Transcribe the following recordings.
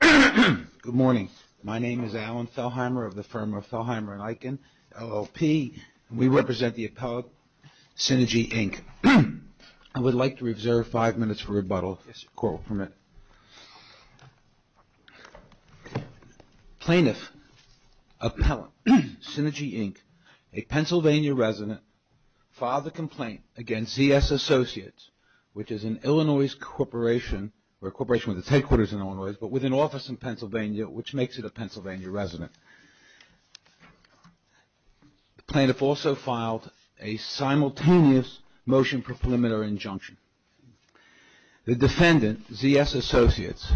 Good morning. My name is Alan Thelheimer of the firm of Thelheimer & Eichen, LLP. We represent the Appellate Synergy, Inc. I would like to reserve five minutes for rebuttal. Plaintiff Appellate Synergy, Inc., a Pennsylvania resident, filed a complaint against ZSAssociates, which is an Illinois corporation, or a corporation with its headquarters in Illinois, but with an office in Pennsylvania, which makes it a Pennsylvania resident. The plaintiff also filed a simultaneous motion proclamatory injunction. The defendant, ZSAssociates,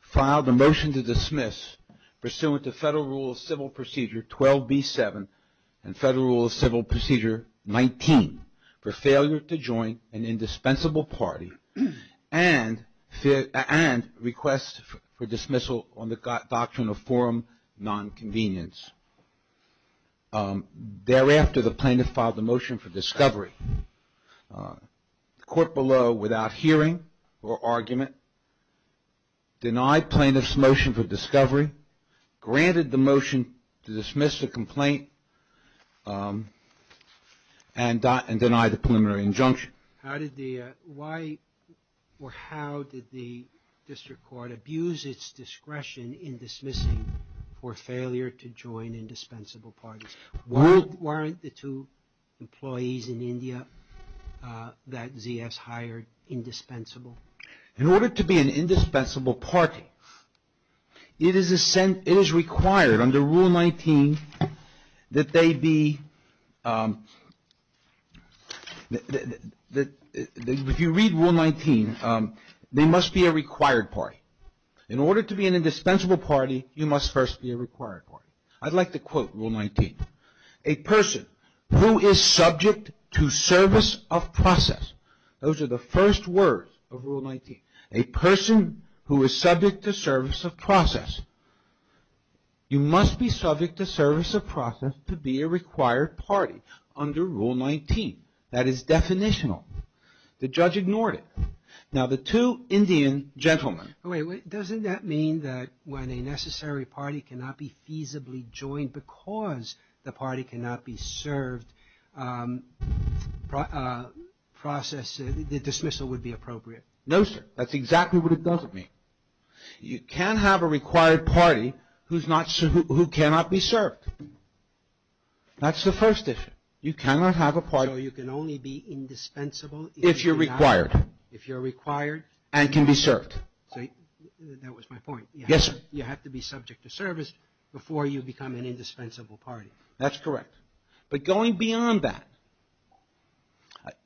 filed a motion to dismiss pursuant to Federal Rule of Civil Procedure 12b-7 and Federal Rule of Civil for dismissal on the doctrine of forum nonconvenience. Thereafter, the plaintiff filed a motion for discovery. The court below, without hearing or argument, denied plaintiff's motion for discovery, granted the motion to dismiss the complaint, and denied the preliminary court abuse its discretion in dismissing for failure to join indispensable parties. Weren't the two employees in India that ZS hired indispensable? In order to be an indispensable party, it is required under Rule 19 that they be, if you read Rule 19, they must be a required party. In order to be an indispensable party, you must first be a required party. I'd like to quote Rule 19. A person who is subject to service of process, those are the first words of Rule 19, a person who is subject to service of process, you must be subject to service of process to be a required party under Rule 19. That is definitional. The judge ignored it. Now, the two Indian gentlemen... Wait, wait, doesn't that mean that when a necessary party cannot be feasibly joined because the party cannot be served, the dismissal would be appropriate? No, sir. That's exactly what it doesn't mean. You can't have a required party who cannot be served. That's the first issue. You cannot have a party... So you can only be indispensable... If you're required. If you're required... And can be served. That was my point. Yes, sir. You have to be subject to service before you become an indispensable party. That's correct. But going beyond that,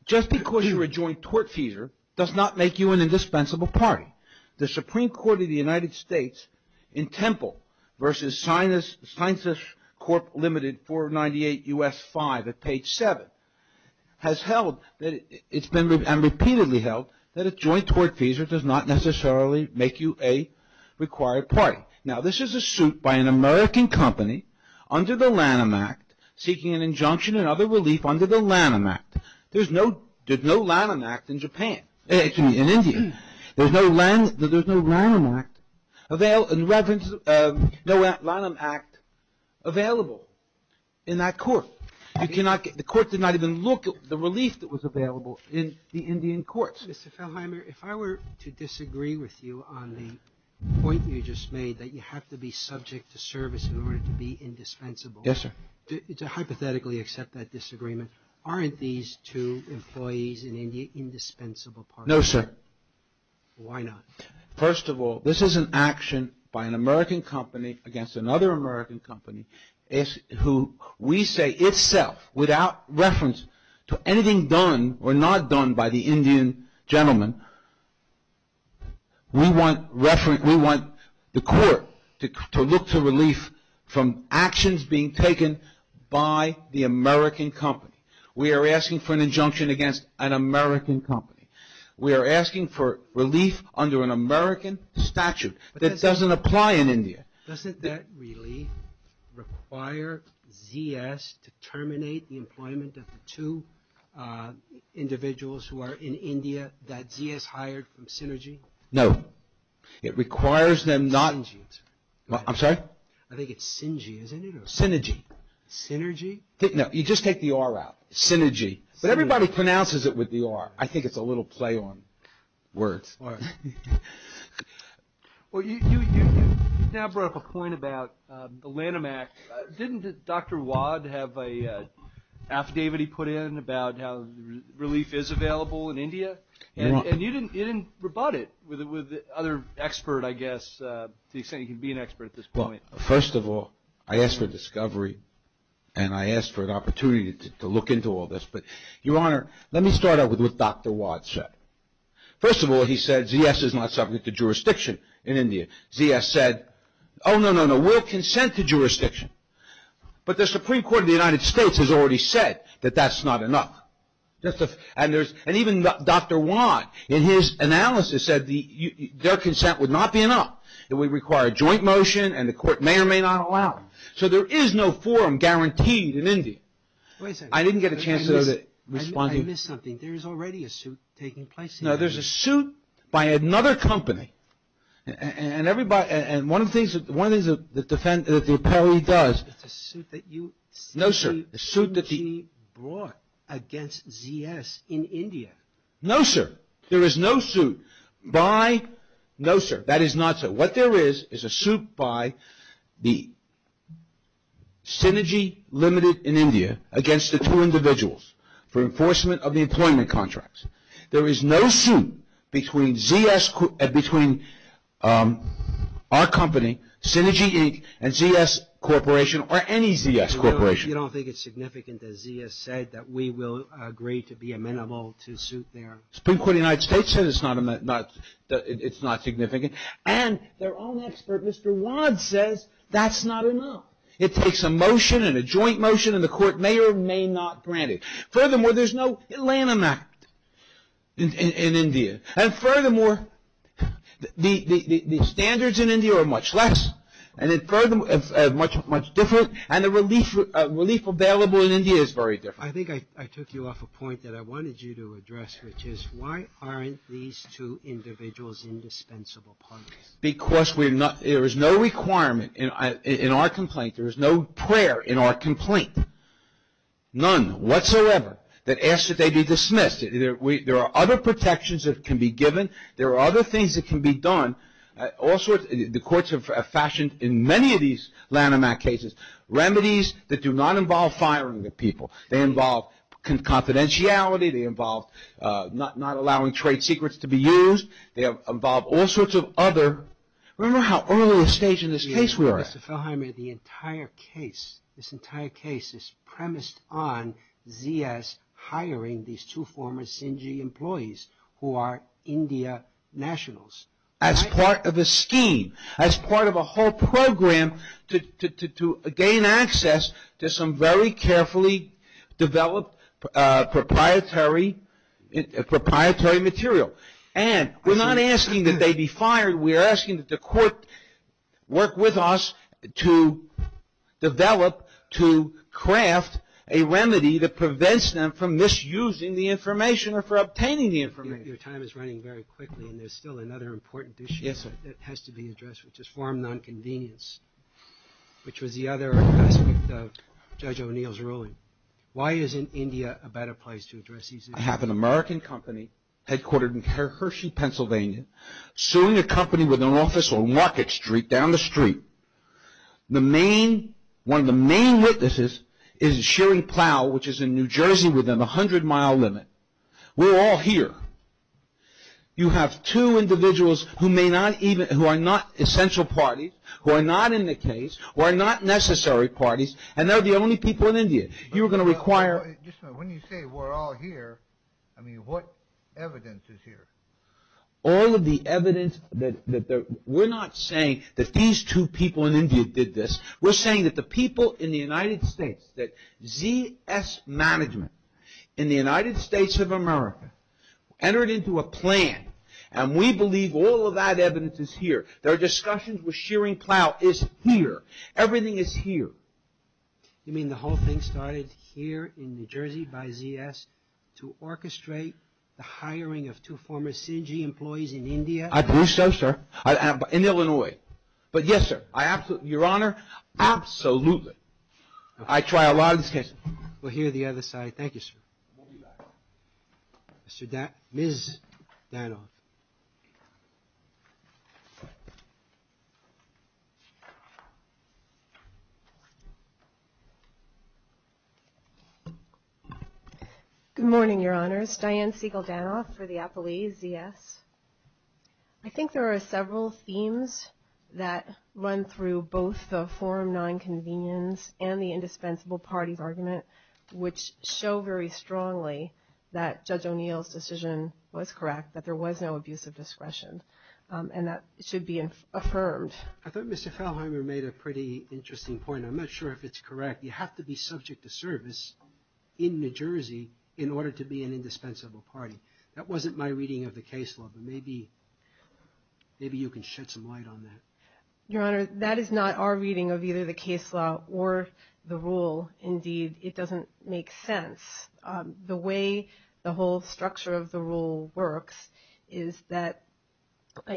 just because you're a joint tortfeasor does not make you an indispensable party. The Supreme Court of the United States in Temple versus Sinus Corp. Ltd. 498 U.S. 5 at page 7 has held and repeatedly held that a joint tortfeasor does not necessarily make you a required party. Now, this is a suit by an American company under the Lanham Act seeking an injunction and other relief under the Lanham Act. There's no Lanham Act in Japan, excuse me, in India. There's no Lanham Act available in that court. The court did not even look at the relief that was available in the Indian courts. Mr. Feldheimer, if I were to disagree with you on the point you just made that you have to be subject to service in order to be indispensable... Yes, sir. To hypothetically accept that disagreement, aren't these two employees in India indispensable parties? No, sir. Why not? First of all, this is an action by an American company against another American company who we say itself, without reference to anything done or not done by the Indian gentleman, we want the court to look to relief from actions being taken by the American company. We are asking for an injunction against an American company. We are asking for relief under an American statute that doesn't apply in India. Doesn't that relief require ZS to terminate the employment of the two individuals who had ZS hired from Synergy? No. It requires them not... Synergy, I'm sorry. I'm sorry? I think it's Synergy, isn't it? Synergy. Synergy? No, you just take the R out. Synergy. Everybody pronounces it with the R. I think it's a little play on words. All right. Well, you now brought up a point about the Lanham Act. Didn't Dr. Wad have an affidavit he put in about how relief is available in India? You're wrong. And you didn't rebut it with the other expert, I guess, to the extent you can be an expert at this point. Well, first of all, I asked for discovery and I asked for an opportunity to look into all this, but Your Honor, let me start out with what Dr. Wad said. First of all, he said ZS is not subject to jurisdiction in India. ZS said, oh, no, no, no, we'll consent to jurisdiction, but the Supreme Court of the United States has already said that that's not enough. And even Dr. Wad, in his analysis, said their consent would not be enough. It would require joint motion and the court may or may not allow it. So there is no forum guaranteed in India. I missed something. There is already a suit taking place here. No, there's a suit by another company. And one of the things that the appellee does... It's a suit that you... No, sir. The suit that he brought against ZS in India. No, sir. There is no suit by... No, sir. That is not so. What there is, is a suit by the Synergy Limited in India against the two individuals for enforcement of the employment contracts. There is no suit between ZS...between our company, Synergy Inc., and ZS Corporation, or any ZS Corporation. You don't think it's significant that ZS said that we will agree to be amenable to suit their... Supreme Court of the United States said it's not significant. And their own expert, Mr. Wad, says that's not enough. It takes a motion and a joint motion and the court may or may not grant it. Furthermore, there's no Lanham Act in India. And furthermore, the standards in India are much less. And it's much, much different. And the relief available in India is very different. I think I took you off a point that I wanted you to address, which is why aren't these two individuals indispensable partners? Because there is no requirement in our complaint. There is no prayer in our complaint. None whatsoever that asks that they be dismissed. There are other protections that can be given. There are other things that can be done. All sorts...the courts have fashioned, in many of these Lanham Act cases, remedies that do not involve firing the people. They involve confidentiality. They involve not allowing trade secrets to be used. They involve all sorts of other... Remember how early in the stage in this case we were at. Mr. Feldheimer, the entire case, this entire case is premised on Zia's hiring these two former Sinji employees who are India nationals. As part of a scheme. As part of a whole program to gain access to some very carefully developed proprietary material. And we're not asking that they be fired. We're asking that the court work with us to develop, to craft a remedy that prevents them from misusing the information or for obtaining the information. Your time is running very quickly and there's still another important issue that has to be addressed, which is foreign non-convenience, which was the other aspect of Judge O'Neill's ruling. Why isn't India a better place to address these issues? I have an American company headquartered in Hershey, Pennsylvania, suing a company with an office on Rocket Street down the street. One of the main witnesses is Shearing Plow, which is in New Jersey within a hundred mile limit. We're all here. You have two individuals who may not even...who are not essential parties, who are not in the case, who are not necessary parties, and they're the only people in India. You're going to require... Just a minute. When you say we're all here, I mean, what evidence is here? All of the evidence that...we're not saying that these two people in India did this. We're saying that the people in the United States, that ZS Management in the United States of America entered into a plan and we believe all of that evidence is here. Their discussions with Shearing Plow is here. Everything is here. You mean the whole thing started here in New Jersey by ZS to orchestrate the hiring of two former CIGI employees in India? I do so, sir. In Illinois. But yes, sir. I absolutely...Your Honor, absolutely. I try a lot of these cases. We'll hear the other side. Thank you, sir. We'll be back. Ms. Danoff. Good morning, Your Honors. Diane Siegel Danoff for the appellees, ZS. I think there are several themes that run through both the forum non-convenience and the indispensable parties argument, which show very strongly that Judge O'Neill's decision was correct, that there was no abusive discretion. And that should be affirmed. I thought Mr. Falheimer made a pretty interesting point. I'm not sure if it's correct. You have to be subject to service in New Jersey in order to be an indispensable party. That wasn't my reading of the case law, but maybe you can shed some light on that. Your Honor, that is not our reading of either the case law or the rule. Indeed, it doesn't make sense. The way the whole structure of the rule works is that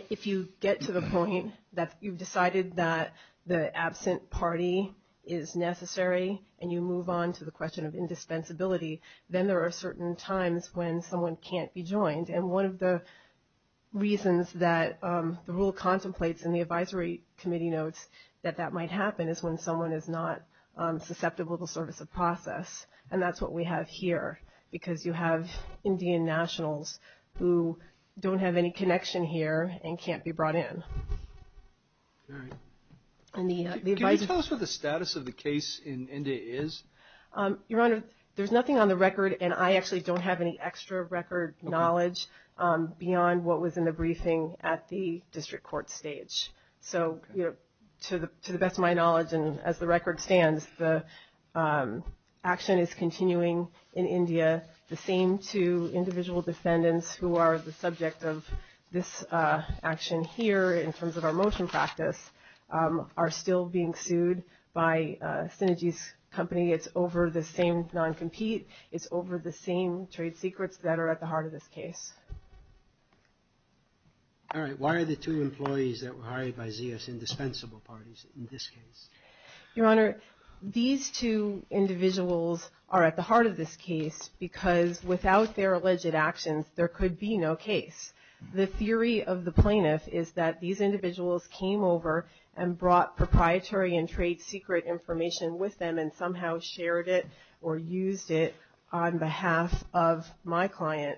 if you get to the point that you've decided that the absent party is necessary and you move on to the question of indispensability, then there are certain times when someone can't be joined. And one of the reasons that the rule contemplates in the advisory committee notes that that might happen is when someone is not susceptible to service of process. And that's what we have here, because you have Indian nationals who don't have any connection here and can't be brought in. Can you tell us what the status of the case in India is? Your Honor, there's nothing on the record, and I actually don't have any extra record knowledge beyond what was in the briefing at the district court stage. So to the best of my knowledge and as the record stands, the action is continuing in India. The same two individual defendants who are the subject of this action here in terms of our motion practice are still being prosecuted. It's over the same non-compete. It's over the same trade secrets that are at the heart of this case. All right. Why are the two employees that were hired by Zia's indispensable parties in this case? Your Honor, these two individuals are at the heart of this case because without their alleged actions, there could be no case. The theory of the plaintiff is that these individuals came over and brought proprietary and trade secret information with them and somehow shared it or used it on behalf of my client,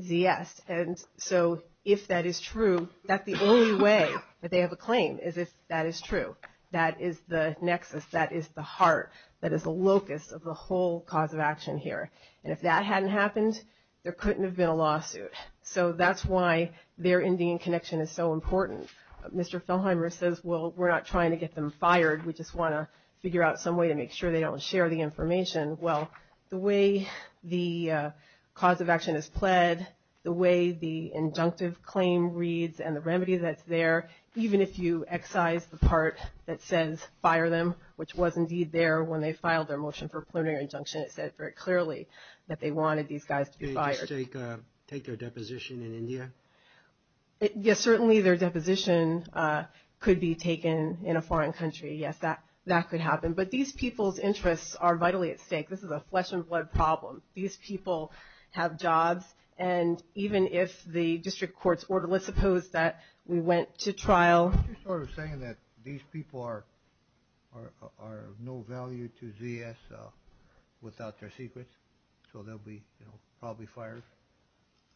Zia's. And so if that is true, that's the only way that they have a claim is if that is true. That is the nexus. That is the heart. That is the locus of the whole cause of action here. And if that hadn't happened, there couldn't have been a lawsuit. So that's why their Indian connection is so important. Mr. Feldheimer says, well, we're not trying to get them fired. We just want to figure out some way to make sure they don't share the information. Well, the way the cause of action is pled, the way the injunctive claim reads and the remedy that's there, even if you excise the part that says fire them, which was indeed there when they filed their motion for plenary injunction, it said very clearly that they wanted these guys to be fired. Take their deposition in India? Yes, certainly their deposition could be taken in a foreign country. Yes, that could happen. But these people's interests are vitally at stake. This is a flesh and blood problem. These people have jobs. And even if the district courts order, let's suppose that we went to trial. Aren't you sort of saying that these people are of no value to ZS without their secrets? So they'll be probably fired?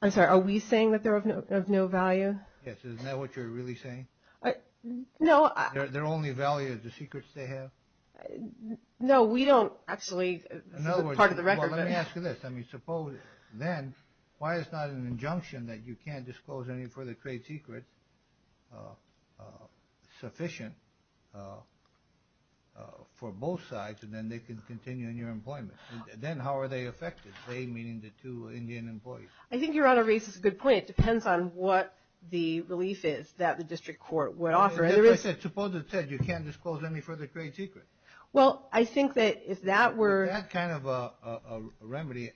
I'm sorry. Are we saying that they're of no value? Yes. Isn't that what you're really saying? No. Their only value is the secrets they have? No, we don't actually. This is part of the record. Let me ask you this. Suppose then why it's not an injunction that you can't disclose any further trade secrets sufficient for both sides, and then they can continue in your employment. Then how are they affected, they meaning the two Indian employees? I think Your Honor raises a good point. It depends on what the relief is that the district court would offer. Suppose it says you can't disclose any further trade secrets. Well, I think that if that were... With that kind of a remedy,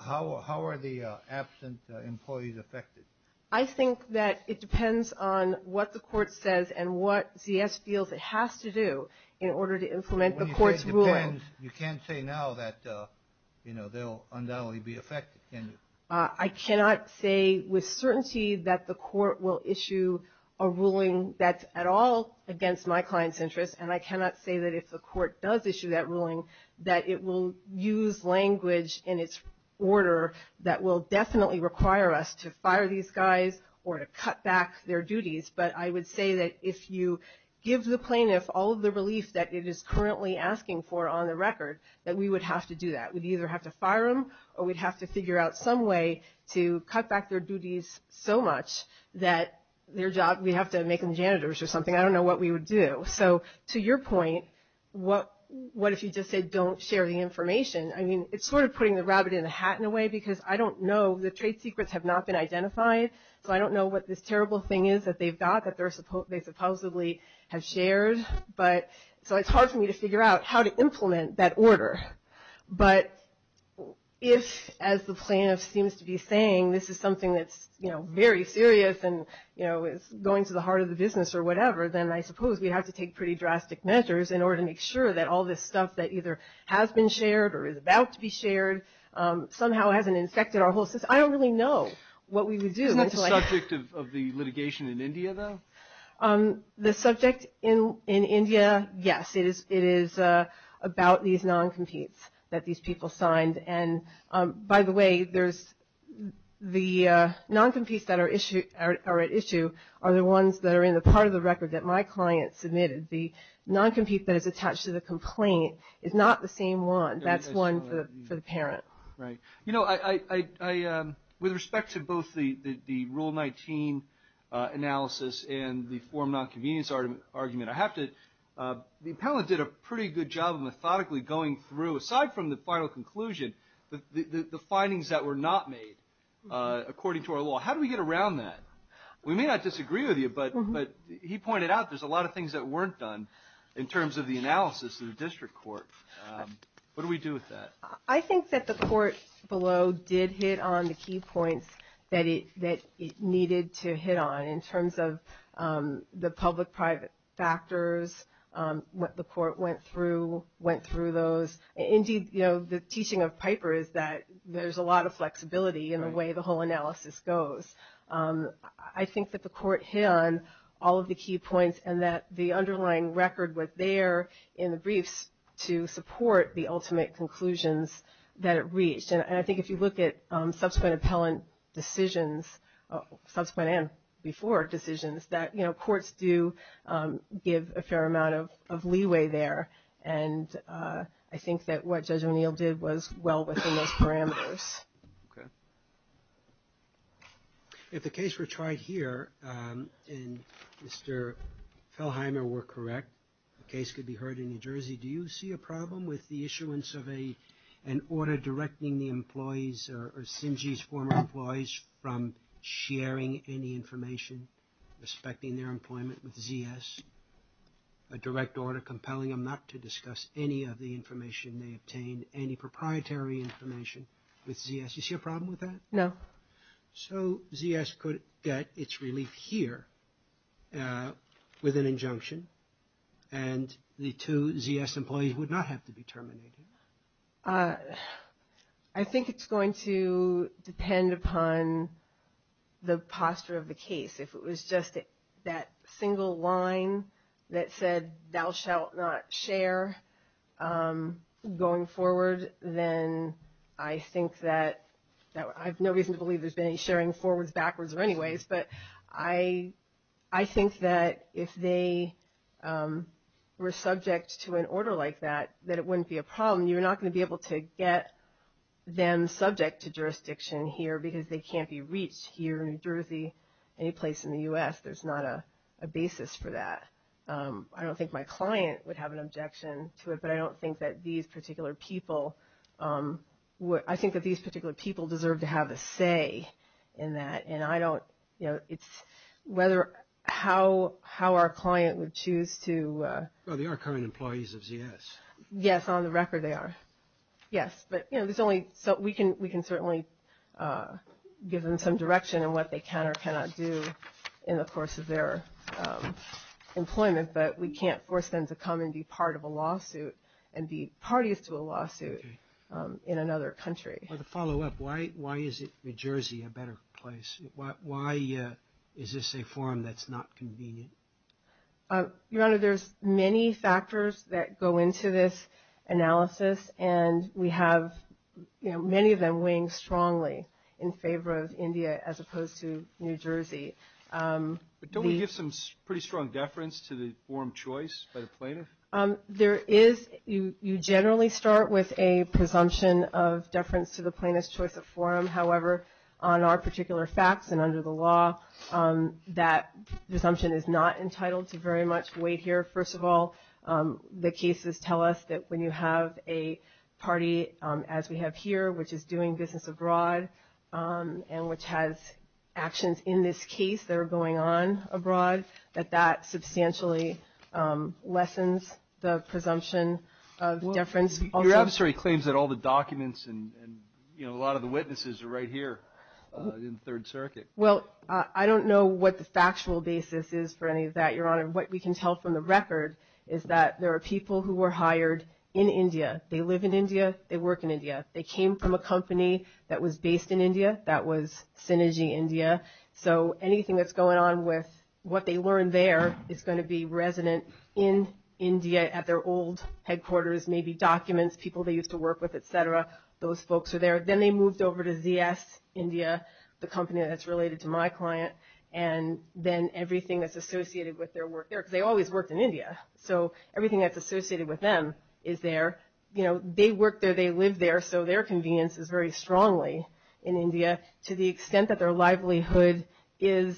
how are the absent employees affected? I think that it depends on what the court says and what ZS feels it has to do in order to implement the court's rule. When you say it depends, you can't say now that they'll undoubtedly be affected, can you? I cannot say with certainty that the court will issue a ruling that's at all against my client's interests, and I cannot say that if the court does issue that ruling that it will use language in its order that will definitely require us to fire these guys or to cut back their duties. But I would say that if you give the plaintiff all of the relief that it is currently asking for on the record, that we would have to do that. We'd either have to fire them or we'd have to figure out some way to cut back their duties so much that we'd have to make them janitors or something. I don't know what we would do. So to your point, what if you just said don't share the information? I mean, it's sort of putting the rabbit in the hat in a way because I don't know. The trade secrets have not been identified, so I don't know what this terrible thing is that they've got that they supposedly have shared. So it's hard for me to figure out how to implement that order. But if, as the plaintiff seems to be saying, this is something that's very serious and is going to the heart of the business or whatever, then I suppose we'd have to take pretty drastic measures in order to make sure that all this stuff that either has been shared or is about to be shared somehow hasn't infected our whole system. I don't really know what we would do. Isn't that the subject of the litigation in India, though? The subject in India, yes, it is about these non-competes that these people signed. And by the way, the non-competes that are at issue are the ones that are in the part of the record that my client submitted. The non-compete that is attached to the complaint is not the same one. That's one for the parent. Right. You know, with respect to both the Rule 19 analysis and the form non-convenience argument, the appellant did a pretty good job of methodically going through, aside from the final conclusion, the findings that were not made according to our law. How do we get around that? We may not disagree with you, but he pointed out there's a lot of things that weren't done in terms of the analysis in the district court. What do we do with that? I think that the court below did hit on the key points that it needed to hit on in terms of the public-private factors, what the court went through, went through those. Indeed, you know, the teaching of Piper is that there's a lot of flexibility in the way the whole analysis goes. I think that the court hit on all of the key points and that the underlying record was there in the briefs to support the ultimate conclusions that it reached. And I think if you look at subsequent appellant decisions, subsequent and before decisions, that, you know, courts do give a fair amount of leeway there. And I think that what Judge O'Neill did was well within those parameters. If the case were tried here and Mr. Fellheimer were correct, the case could be heard in New Jersey, do you see a problem with the issuance of an order directing the employees or CIMG's former employees from sharing any information, respecting their employment with ZS, a direct order compelling them not to discuss any of the information they obtained, any proprietary information with ZS? Do you see a problem with that? No. So ZS could get its relief here with an injunction and the two ZS employees would not have to be terminated. I think it's going to depend upon the posture of the case. If it was just that single line that said thou shalt not share going forward, then I think that I have no reason to believe there's been any sharing forwards, backwards, or anyways. But I think that if they were subject to an order like that, that it wouldn't be a problem. You're not going to be able to get them subject to jurisdiction here because they can't be reached here in New Jersey, any place in the U.S., there's not a basis for that. I don't think my client would have an objection to it, but I don't think that these particular people, I think that these particular people deserve to have a say in that. And I don't, you know, it's whether, how our client would choose to. Well, they are current employees of ZS. Yes, on the record they are. Yes, but, you know, there's only, so we can certainly give them some direction in what they can or cannot do in the course of their employment, but we can't force them to come and be part of a lawsuit and be parties to a lawsuit in another country. Well, to follow up, why is it New Jersey a better place? Why is this a forum that's not convenient? Your Honor, there's many factors that go into this analysis, and we have, you know, many of them weighing strongly in favor of India as opposed to New Jersey. But don't we give some pretty strong deference to the forum choice by the plaintiff? There is, you generally start with a presumption of deference to the plaintiff's choice of forum. However, on our particular facts and under the law, that presumption is not entitled to very much weight here. First of all, the cases tell us that when you have a party, as we have here, which is doing business abroad and which has actions in this case that are going on abroad, that that substantially lessens the presumption of deference. Your adversary claims that all the documents and, you know, a lot of the witnesses are right here in the Third Circuit. Well, I don't know what the factual basis is for any of that, Your Honor. What we can tell from the record is that there are people who were hired in India. They live in India. They work in India. They came from a company that was based in India that was Synergy India. So anything that's going on with what they learned there is going to be resident in India at their old headquarters, maybe documents, people they used to work with, et cetera. Those folks are there. Then they moved over to ZS India, the company that's related to my client, and then everything that's associated with their work there, because they always worked in India. So everything that's associated with them is there. You know, they work there, they live there, so their convenience is very strongly in India to the extent that their livelihood is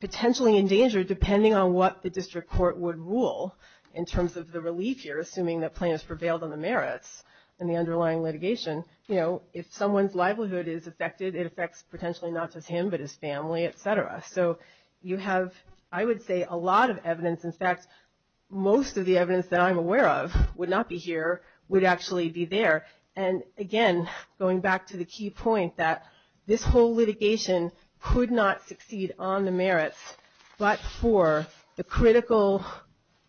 potentially in danger, depending on what the district court would rule in terms of the relief here, assuming that plaintiffs prevailed on the merits in the underlying litigation. You know, if someone's livelihood is affected, it affects potentially not just him but his family, et cetera. So you have, I would say, a lot of evidence. In fact, most of the evidence that I'm aware of would not be here, would actually be there. And, again, going back to the key point that this whole litigation could not succeed on the merits but for the critical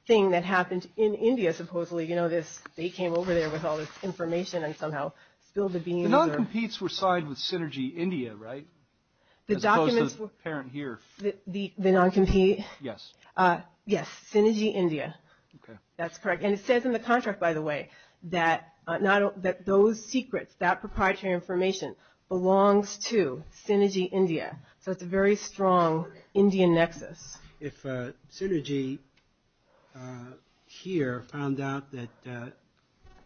thing that happened in India, supposedly. You know, they came over there with all this information and somehow spilled the beans. The non-competes were signed with Synergy India, right? As opposed to the parent here. The non-compete? Yes. Yes, Synergy India. Okay. That's correct. And it says in the contract, by the way, that those secrets, that proprietary information, belongs to Synergy India. So it's a very strong Indian nexus. If Synergy here found out that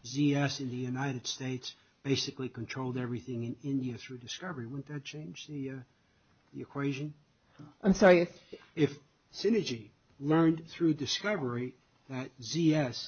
ZS in the United States basically controlled everything in India through discovery, wouldn't that change the equation? I'm sorry? If Synergy learned through discovery that ZS,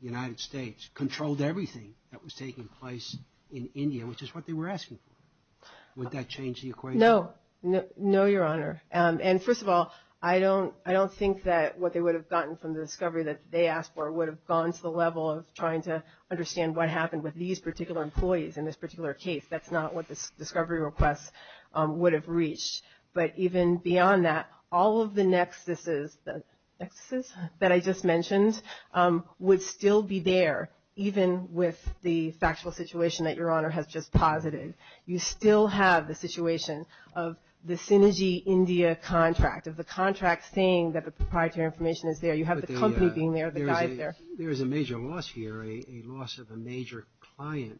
the United States, controlled everything that was taking place in India, which is what they were asking for, would that change the equation? No. No, Your Honor. And, first of all, I don't think that what they would have gotten from the discovery that they asked for would have gone to the level of trying to understand what happened with these particular employees in this particular case. That's not what the discovery request would have reached. But even beyond that, all of the nexuses that I just mentioned would still be there, even with the factual situation that Your Honor has just posited. You still have the situation of the Synergy India contract, of the contract saying that the proprietary information is there. You have the company being there, the guys there. There is a major loss here, a loss of a major client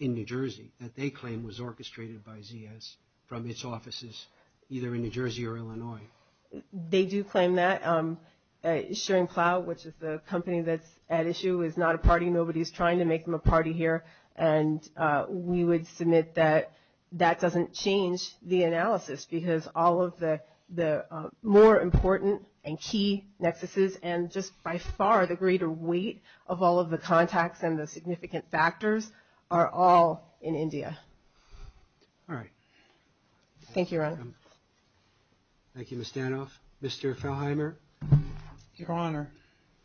in New Jersey that they claim was orchestrated by ZS from its offices, either in New Jersey or Illinois. They do claim that. Shearing Plow, which is the company that's at issue, is not a party. Nobody is trying to make them a party here. And we would submit that that doesn't change the analysis, because all of the more important and key nexuses and just by far the greater weight of all of the contacts and the significant factors are all in India. All right. Thank you, Your Honor. Thank you, Ms. Danoff. Mr. Falheimer? Your Honor,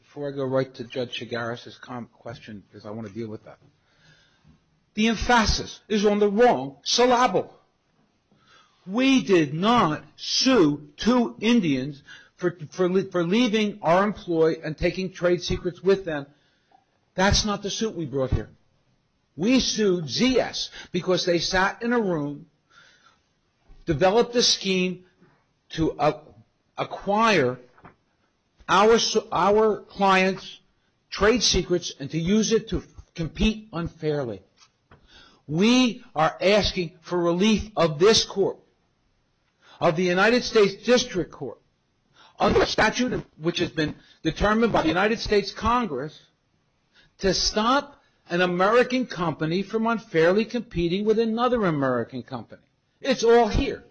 before I go right to Judge Chigaris' question, because I want to deal with that, the emphasis is on the wrong syllable. We did not sue two Indians for leaving our employee and taking trade secrets with them. That's not the suit we brought here. We sued ZS because they sat in a room, developed a scheme to acquire our clients' trade secrets and to use it to compete unfairly. We are asking for relief of this court, of the United States District Court, under a statute which has been determined by the United States Congress, to stop an American company from unfairly competing with another American company. It's all here.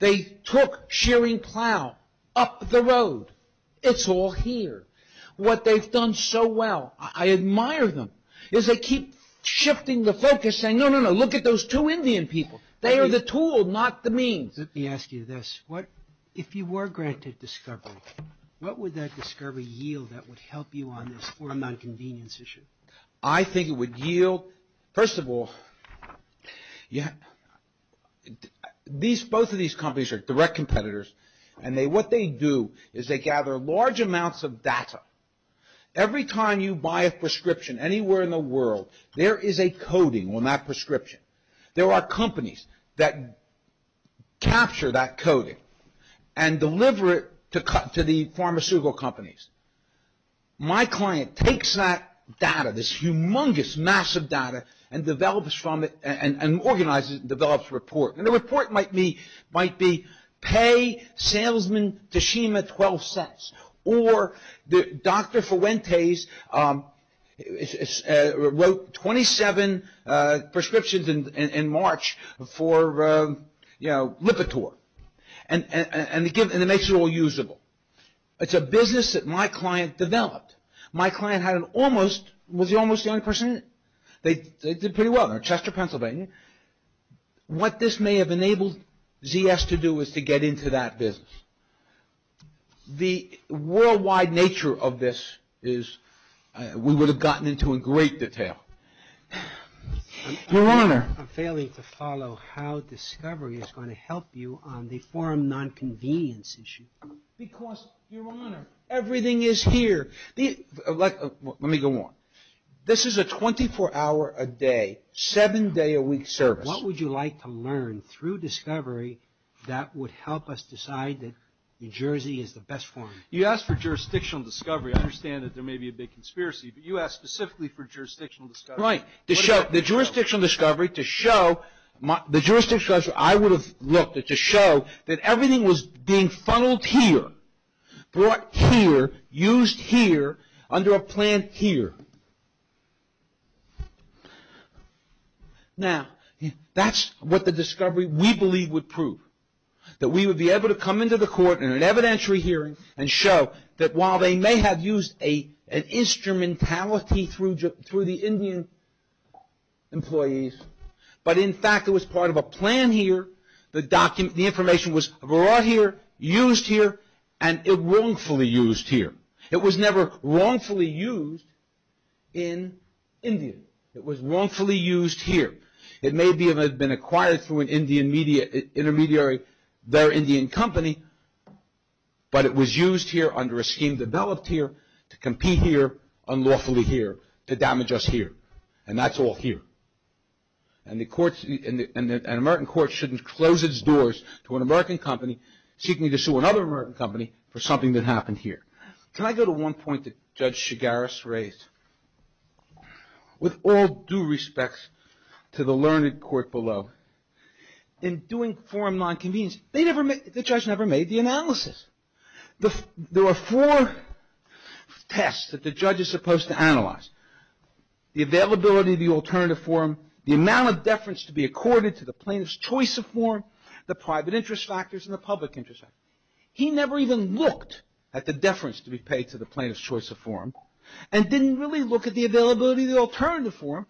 They took Shearing Plough up the road. It's all here. What they've done so well, I admire them, is they keep shifting the focus saying, no, no, no, look at those two Indian people. They are the tool, not the means. Let me ask you this. If you were granted discovery, what would that discovery yield that would help you on this foreign nonconvenience issue? I think it would yield, first of all, both of these companies are direct competitors, and what they do is they gather large amounts of data. Every time you buy a prescription anywhere in the world, there is a coding on that prescription. There are companies that capture that coding and deliver it to the pharmaceutical companies. My client takes that data, this humongous, massive data, and develops from it, and organizes it, and develops a report. And the report might be, pay salesman Tashima 12 cents, or Dr. Fuentes wrote 27 prescriptions in March for Lipitor, and it makes it all usable. It's a business that my client developed. My client had an almost, was he almost the only person in it? They did pretty well. They're in Chester, Pennsylvania. What this may have enabled ZS to do is to get into that business. The worldwide nature of this is, we would have gotten into in great detail. Your Honor. I'm failing to follow how Discovery is going to help you on the forum nonconvenience issue. Because, Your Honor, everything is here. Let me go on. This is a 24 hour a day, 7 day a week service. What would you like to learn through Discovery that would help us decide that New Jersey is the best forum? You asked for jurisdictional discovery. I understand that there may be a big conspiracy, but you asked specifically for jurisdictional discovery. Right. The jurisdictional discovery to show, the jurisdictional discovery I would have looked at to show that everything was being funneled here, brought here, used here, under a plan here. Now, that's what the discovery we believe would prove. That we would be able to come into the court in an evidentiary hearing and show that while they may have used an instrumentality through the Indian employees, but in fact it was part of a plan here. The information was brought here, used here, and it wrongfully used here. It was never wrongfully used, in India. It was wrongfully used here. It may have been acquired through an Indian intermediary, their Indian company, but it was used here under a scheme developed here to compete here, unlawfully here, to damage us here. And that's all here. And the courts, an American court shouldn't close its doors to an American company seeking to sue another American company for something that happened here. Can I go to one point that Judge Chigaris raised? With all due respects to the learned court below, in doing forum nonconvenience, the judge never made the analysis. There were four tests that the judge is supposed to analyze. The availability of the alternative forum, the amount of deference to be accorded to the plaintiff's choice of forum, the private interest factors, and the public interest factors. He never even looked at the deference to be paid to the plaintiff's choice of forum and didn't really look at the availability of the alternative forum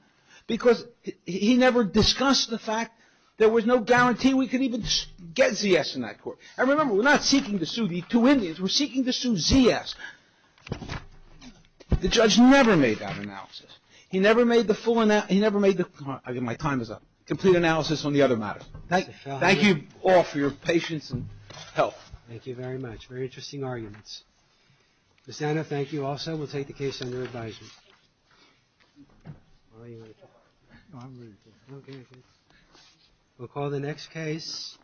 because he never discussed the fact there was no guarantee we could even get ZS in that court. And remember, we're not seeking to sue the two Indians. We're seeking to sue ZS. The judge never made that analysis. He never made the full analysis. My time is up. Complete analysis on the other matter. Thank you all for your patience and help. Thank you very much. Very interesting arguments. Ms. Anna, thank you also. We'll take the case under advisement. We'll call the next case.